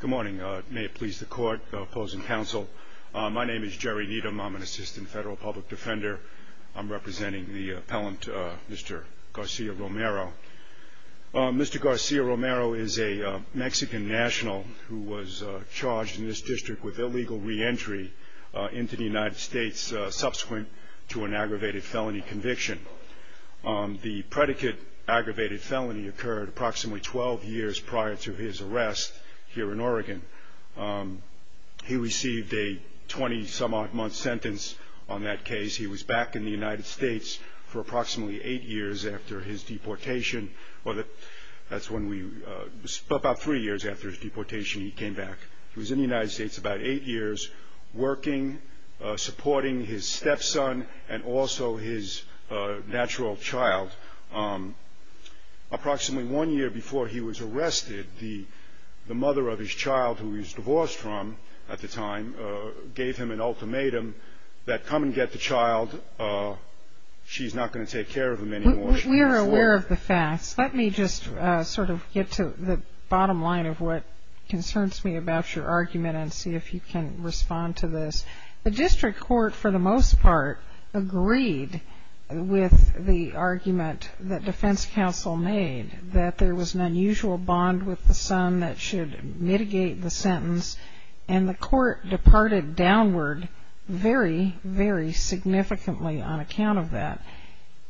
Good morning. May it please the court, opposing counsel. My name is Jerry Needham. I'm an assistant federal public defender. I'm representing the appellant Mr. Garcia-Romero. Mr. Garcia-Romero is a Mexican national who was charged in this district with illegal re-entry into the United States subsequent to an aggravated felony conviction. The predicate aggravated felony occurred approximately 12 years prior to his arrest here in Oregon. He received a 20 some odd month sentence on that case. He was back in the United States for approximately 8 years after his deportation. That's when we, about 3 years after his deportation he came back. He was in the United States about 8 years working, supporting his stepson and also his natural child. Approximately one year before he was arrested, the mother of his child who he was divorced from at the time gave him an ultimatum that come and get the child, she's not going to take care of him anymore. We are aware of the facts. Let me just sort of get to the bottom line of what concerns me about your argument and see if you can respond to this. The district court for the most part agreed with the argument that defense counsel made that there was an unusual bond with the son that should mitigate the sentence and the court departed downward very, very significantly on account of that.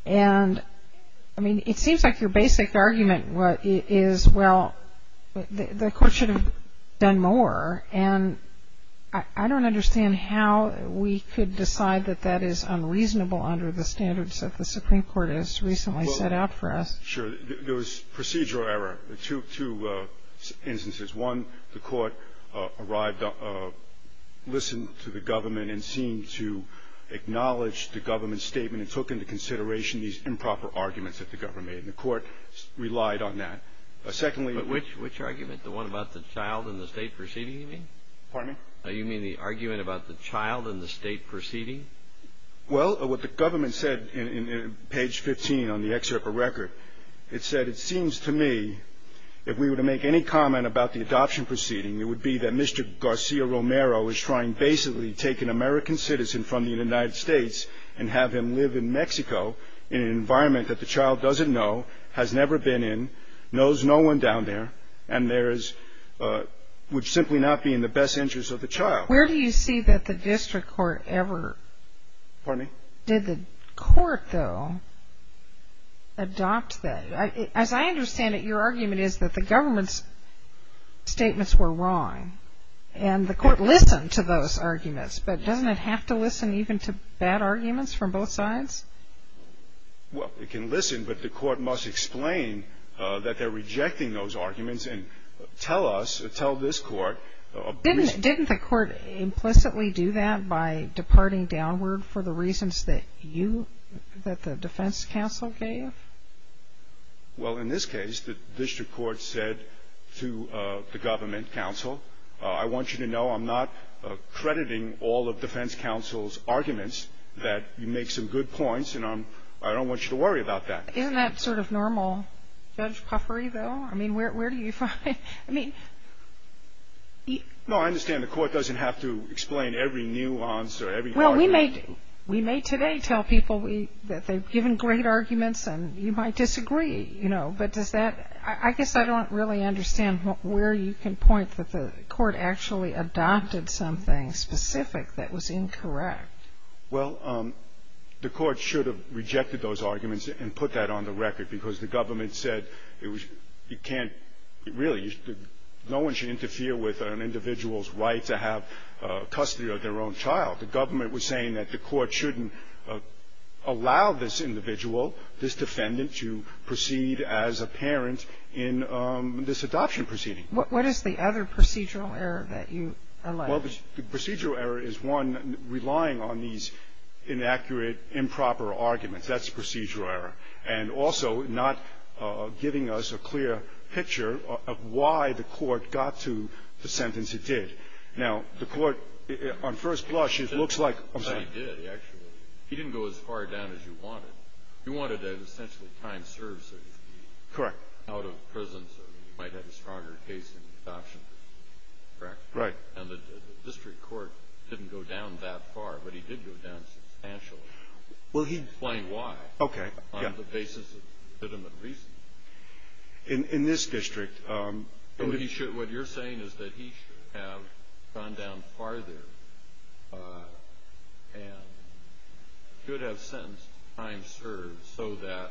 It seems like your basic argument is, well, the court should have done more and I don't understand how we could decide that that is unreasonable under the standards that the Supreme Court has recently set out for us. Sure. There was procedural error. Two instances. One, the court arrived, listened to the government and seemed to acknowledge the government's statement and took into consideration these improper arguments that the government made and the court relied on that. Secondly... Which argument? The one about the child and the state proceeding you mean? Pardon me? You mean the argument about the child and the state proceeding? Well, what the government said in page 15 on the excerpt of record, it said, it seems to me if we were to make any comment about the adoption proceeding, it would be that Mr. Garcia Romero is trying basically to take an American citizen from the United States and have him live in Mexico in an environment that the child doesn't know, has never been in, knows no one down there and there is, would simply not be in the best interest of the child. Where do you see that the district court ever... Pardon me? Did the court, though, adopt that? As I understand it, your argument is that the government's statements were wrong and the court listened to those arguments, but doesn't it have to listen even to bad arguments from both sides? Well, it can listen, but the court must explain that they're rejecting those arguments and tell us, tell this court... Didn't the court implicitly do that by departing downward for the reasons that you, that the defense counsel gave? Well, in this case, the district court said to the government counsel, I want you to know I'm not crediting all of defense counsel's arguments that you make some good points and I don't want you to worry about that. Isn't that sort of normal judge puffery, though? I mean, where do you find, I mean... No, I understand the court doesn't have to explain every nuance or every... Well, we may, we may today tell people that they've given great arguments and you might disagree, you know, but does that, I guess I don't really understand where you can point that the court actually adopted something specific that was incorrect. Well, the court should have rejected those arguments and put that on the record because the government said it was, you can't really, no one should interfere with an individual's right to have custody of their own child. The government was saying that the court shouldn't allow this individual, this defendant, to proceed as a parent in this adoption proceeding. What is the other procedural error that you allege? Well, the procedural error is one relying on these inaccurate, improper arguments. That's procedural error. And also not giving us a clear picture of why the court got to the sentence it did. Now, the court, on first blush, it looks like... But he did, actually. He didn't go as far down as you wanted. You wanted essentially time served so he could be... Correct. Out of prison so he might have a stronger case in adoption. Correct. Right. And the district court didn't go down that far, but he did go down substantially. Well, he... Explain why. Okay. On the basis of legitimate reasons. In this district... What you're saying is that he should have gone down farther and could have sentenced time served so that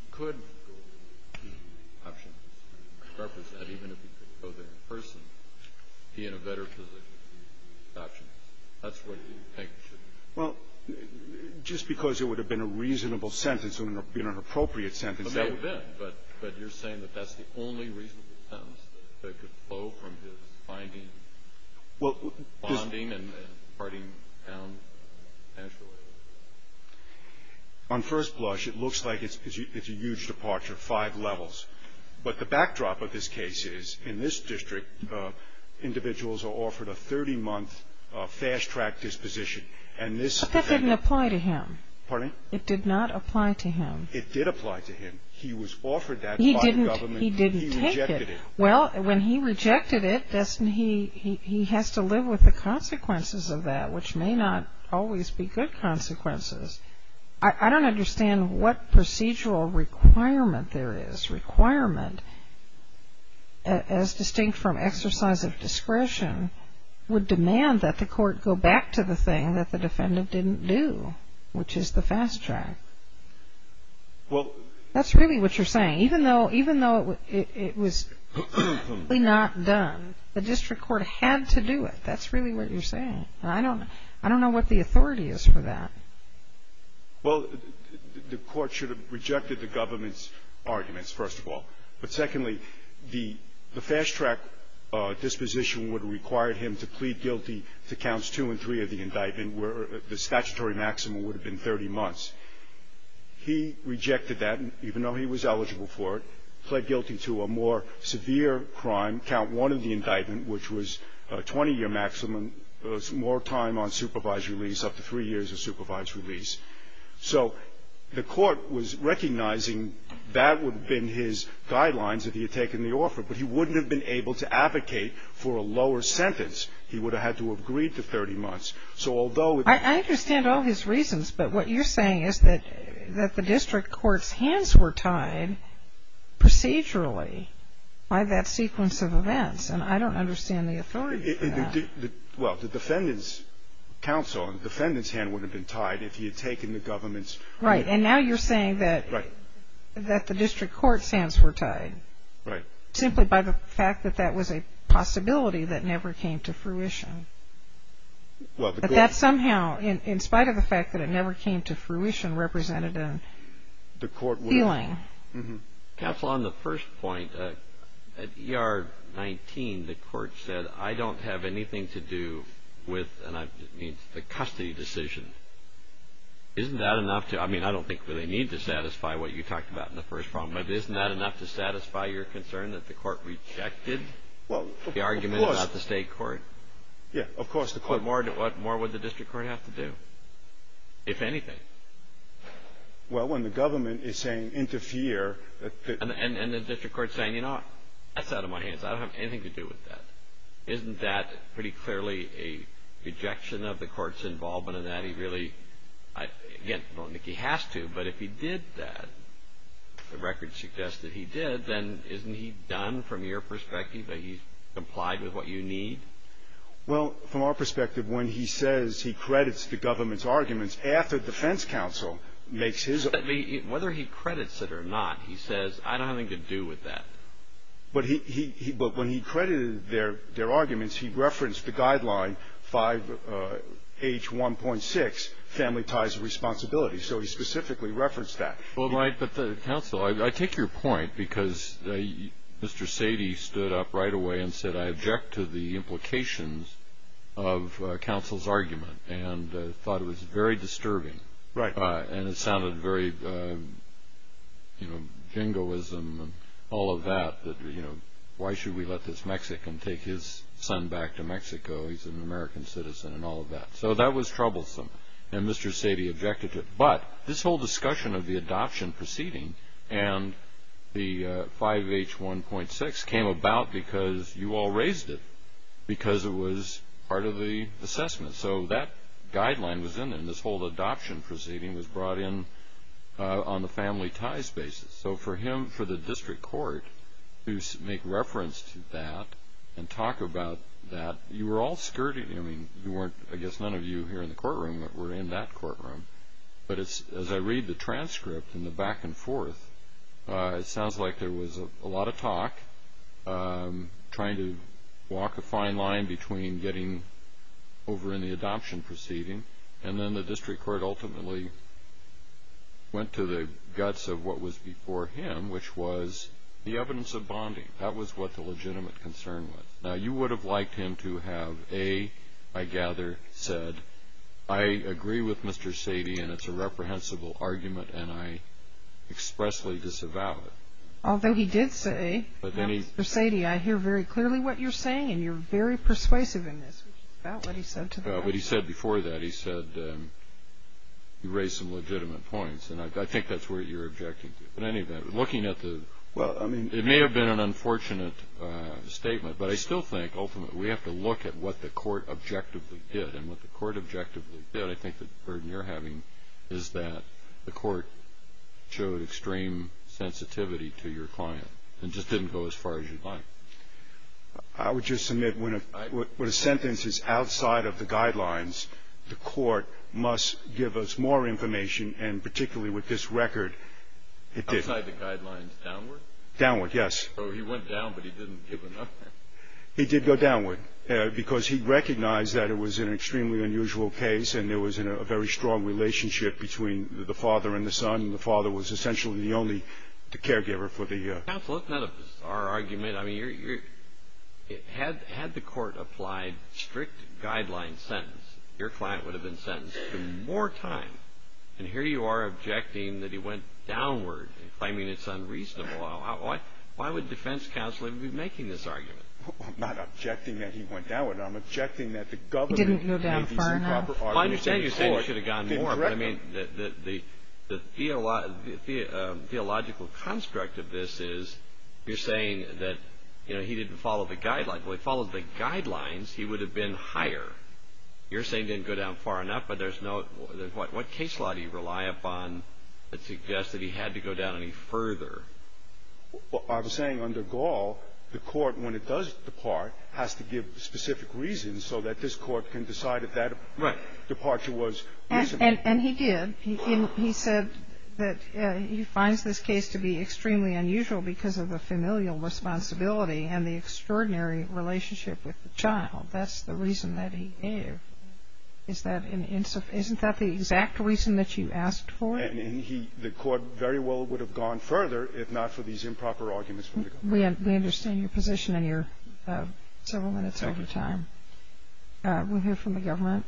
he could go... Even if he could go there in person, he had a better position in adoption. That's what you think should... Well, just because it would have been a reasonable sentence wouldn't have been an appropriate sentence. But that would have been. But you're saying that that's the only reasonable sentence that could flow from his finding... Well, this... Bonding and parting down, essentially. On first blush, it looks like it's a huge departure, five levels. But the backdrop of this case is in this district, individuals are offered a 30-month fast-track disposition. But that didn't apply to him. Pardon me? It did not apply to him. It did apply to him. He was offered that by the government. He didn't take it. He rejected it. Well, when he rejected it, he has to live with the consequences of that, which may not always be good consequences. I don't understand what procedural requirement there is. Requirement, as distinct from exercise of discretion, would demand that the court go back to the thing that the defendant didn't do, which is the fast-track. Well... That's really what you're saying. Even though it was not done, the district court had to do it. That's really what you're saying. And I don't know what the authority is for that. Well, the court should have rejected the government's arguments, first of all. But secondly, the fast-track disposition would have required him to plead guilty to counts two and three of the indictment, where the statutory maximum would have been 30 months. He rejected that, even though he was eligible for it, pled guilty to a more severe crime, count one of the indictment, which was a 20-year maximum, more time on supervised release, up to three years of supervised release. So the court was recognizing that would have been his guidelines if he had taken the offer, but he wouldn't have been able to advocate for a lower sentence. He would have had to have agreed to 30 months. So although... I understand all his reasons, but what you're saying is that the district court's hands were tied procedurally by that sequence of events, and I don't understand the authority for that. Well, the defendant's counsel, the defendant's hand would have been tied if he had taken the government's... Right, and now you're saying that the district court's hands were tied... Right. ...simply by the fact that that was a possibility that never came to fruition. But that somehow, in spite of the fact that it never came to fruition, represented a feeling. Counsel, on the first point, at ER 19, the court said, I don't have anything to do with the custody decision. Isn't that enough to... I mean, I don't think we really need to satisfy what you talked about in the first problem, but isn't that enough to satisfy your concern that the court rejected the argument about the state court? Yeah, of course, the court... What more would the district court have to do, if anything? Well, when the government is saying, interfere... And the district court's saying, you know what? That's out of my hands. I don't have anything to do with that. Isn't that pretty clearly a rejection of the court's involvement in that? He really... Again, I don't think he has to, but if he did that, the records suggest that he did, then isn't he done, from your perspective, that he complied with what you need? Well, from our perspective, when he says he credits the government's arguments, after the defense counsel makes his... Whether he credits it or not, he says, I don't have anything to do with that. But when he credited their arguments, he referenced the guideline 5H1.6, family ties of responsibility. So he specifically referenced that. Well, right, but the counsel... I take your point, because Mr. Sadie stood up right away and said, I object to the implications of counsel's argument, and thought it was very disturbing. And it sounded very, you know, jingoism and all of that, that, you know, why should we let this Mexican take his son back to Mexico? He's an American citizen and all of that. So that was troublesome, and Mr. Sadie objected to it. But this whole discussion of the adoption proceeding and the 5H1.6 came about because you all raised it, because it was part of the assessment. So that guideline was in there, and this whole adoption proceeding was brought in on the family ties basis. So for him, for the district court to make reference to that and talk about that, you were all skirting. I mean, you weren't, I guess none of you here in the courtroom that were in that courtroom. But as I read the transcript and the back and forth, it sounds like there was a lot of talk, trying to walk a fine line between getting over in the adoption proceeding, and then the district court ultimately went to the guts of what was before him, which was the evidence of bonding. That was what the legitimate concern was. Now, you would have liked him to have, A, I gather, said, I agree with Mr. Sadie, and it's a reprehensible argument, and I expressly disavow it. Although he did say, you know, Mr. Sadie, I hear very clearly what you're saying, and you're very persuasive in this, which is about what he said to them. But he said before that, he said you raised some legitimate points, and I think that's what you're objecting to. In any event, looking at the, it may have been an unfortunate statement, but I still think ultimately we have to look at what the court objectively did. And what the court objectively did, I think the burden you're having, is that the court showed extreme sensitivity to your client, and just didn't go as far as you'd like. I would just submit when a sentence is outside of the guidelines, the court must give us more information, and particularly with this record, it did. Outside the guidelines, downward? Downward, yes. So he went down, but he didn't give enough. He did go downward, because he recognized that it was an extremely unusual case, and there was a very strong relationship between the father and the son, and the father was essentially the only, the caregiver for the. Counsel, that's not a bizarre argument. I mean, had the court applied strict guidelines sentence, your client would have been sentenced to more time. And here you are objecting that he went downward, claiming it's unreasonable. Why would defense counsel even be making this argument? I'm not objecting that he went downward. I'm objecting that the government. He didn't go down far enough. Well, I understand you're saying he should have gone more, but I mean the theological construct of this is you're saying that, you know, he didn't follow the guidelines. Well, if he followed the guidelines, he would have been higher. You're saying he didn't go down far enough, but there's no, what case law do you rely upon that suggests that he had to go down any further? Well, I'm saying under Gall, the court, when it does depart, has to give specific reasons so that this court can decide if that departure was reasonable. And he did. He said that he finds this case to be extremely unusual because of the familial responsibility and the extraordinary relationship with the child. That's the reason that he gave. Is that an insufficient, isn't that the exact reason that you asked for? And he, the court very well would have gone further if not for these improper arguments from the government. We understand your position and you're several minutes over time. We'll hear from the government.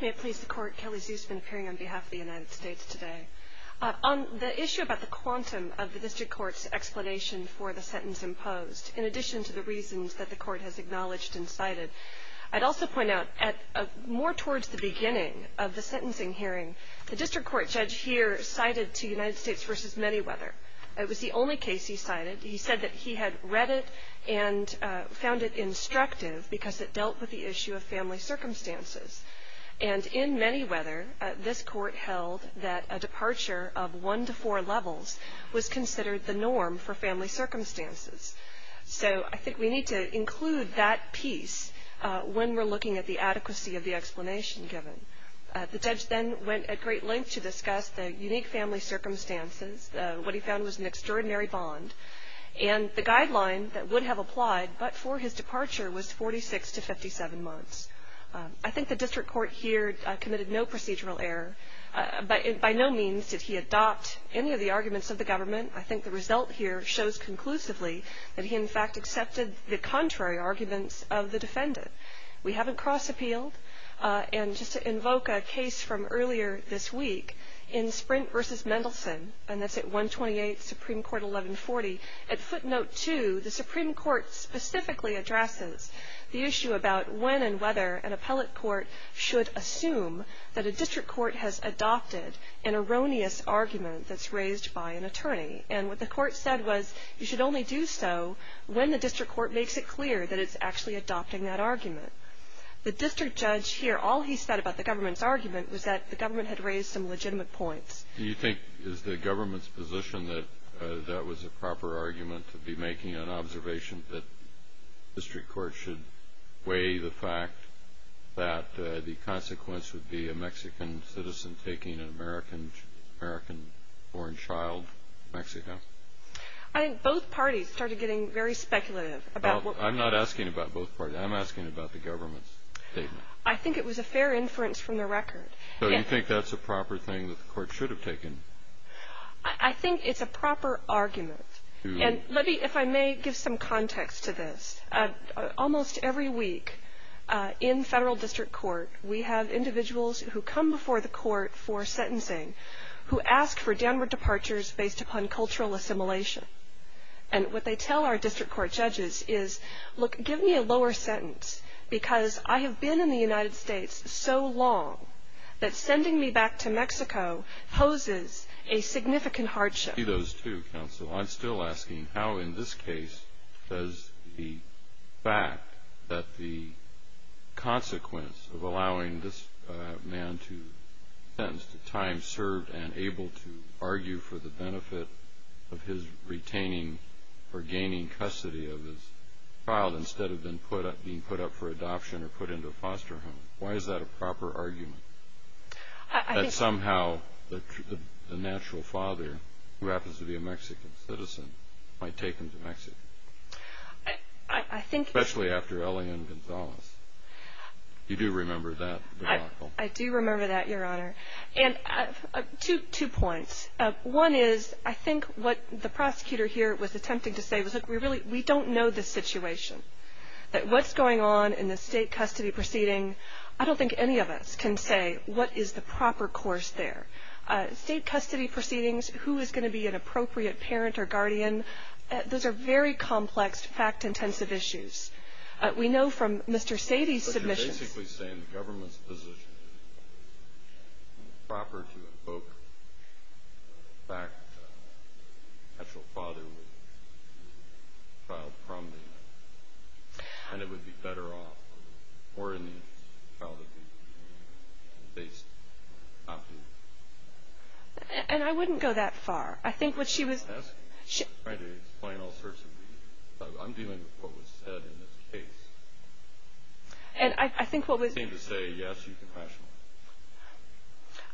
May it please the court, Kelly Zuse has been appearing on behalf of the United States today. On the issue about the quantum of the district court's explanation for the sentence imposed, in addition to the reasons that the court has acknowledged and cited, I'd also point out more towards the beginning of the sentencing hearing, the district court judge here cited to United States v. Manyweather. It was the only case he cited. He said that he had read it and found it instructive because it dealt with the issue of family circumstances. And in Manyweather, this court held that a departure of one to four levels was considered the norm for family circumstances. So I think we need to include that piece when we're looking at the adequacy of the explanation given. The judge then went at great length to discuss the unique family circumstances. What he found was an extraordinary bond. And the guideline that would have applied but for his departure was 46 to 57 months. I think the district court here committed no procedural error. By no means did he adopt any of the arguments of the government. I think the result here shows conclusively that he in fact accepted the contrary arguments of the defendant. We haven't cross-appealed. And just to invoke a case from earlier this week, in Sprint v. Mendelsohn, and that's at 128 Supreme Court 1140, at footnote two, the Supreme Court specifically addresses the issue about when and whether an appellate court should assume that a district court has adopted an erroneous argument that's raised by an attorney. And what the court said was you should only do so when the district court makes it clear that it's actually adopting that argument. The district judge here, all he said about the government's argument was that the government had raised some legitimate points. Do you think it's the government's position that that was a proper argument to be making an observation that the district court should weigh the fact that the consequence would be a Mexican citizen taking an American-born child to Mexico? I think both parties started getting very speculative about what we're asking. I'm not asking about both parties. I'm asking about the government's statement. I think it was a fair inference from the record. So you think that's a proper thing that the court should have taken? I think it's a proper argument. And let me, if I may, give some context to this. Almost every week in federal district court we have individuals who come before the court for sentencing who ask for downward departures based upon cultural assimilation. And what they tell our district court judges is, look, give me a lower sentence, because I have been in the United States so long that sending me back to Mexico poses a significant hardship. I see those, too, counsel. I'm still asking how in this case does the fact that the consequence of allowing this man to be sentenced to time served and able to argue for the benefit of his retaining or gaining custody of his child instead of being put up for adoption or put into a foster home, why is that a proper argument? That somehow the natural father, who happens to be a Mexican citizen, might take him to Mexico. Especially after Elian Gonzalez. You do remember that? I do remember that, Your Honor. And two points. One is I think what the prosecutor here was attempting to say was, look, we don't know the situation. What's going on in the state custody proceeding, I don't think any of us can say what is the proper course there. State custody proceedings, who is going to be an appropriate parent or guardian, those are very complex, fact-intensive issues. We know from Mr. Sadie's submissions. But you're basically saying the government's position is proper to invoke the fact that the natural father would be a child from the United States and it would be better off for the child to be based in Mexico. And I wouldn't go that far. I'm trying to explain all sorts of things. I'm dealing with what was said in this case. You seem to say, yes, you're compassionate.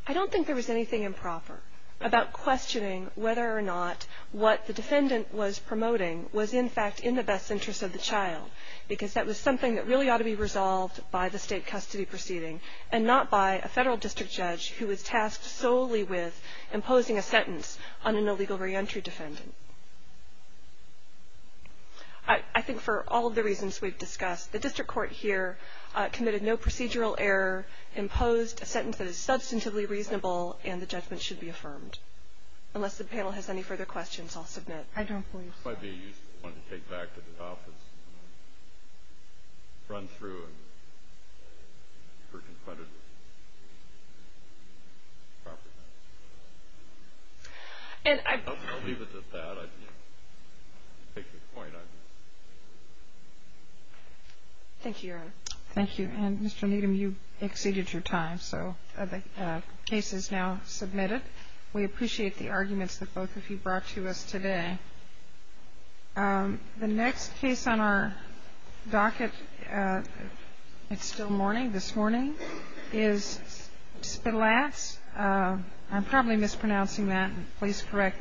I don't think there was anything improper about questioning whether or not what the defendant was promoting was, in fact, in the best interest of the child. Because that was something that really ought to be resolved by the state custody proceeding and not by a federal district judge who is tasked solely with imposing a sentence on an illegal reentry defendant. I think for all of the reasons we've discussed, the district court here committed no procedural error, imposed a sentence that is substantively reasonable, and the judgment should be affirmed. Unless the panel has any further questions, I'll submit. I don't believe so. Thank you, Your Honor. Thank you. And, Mr. Needham, you exceeded your time, so the case is now submitted. We appreciate the arguments that both of you brought to us today. The next case on our docket, it's still morning, this morning, is Spilatz. I'm probably mispronouncing that. Please correct me.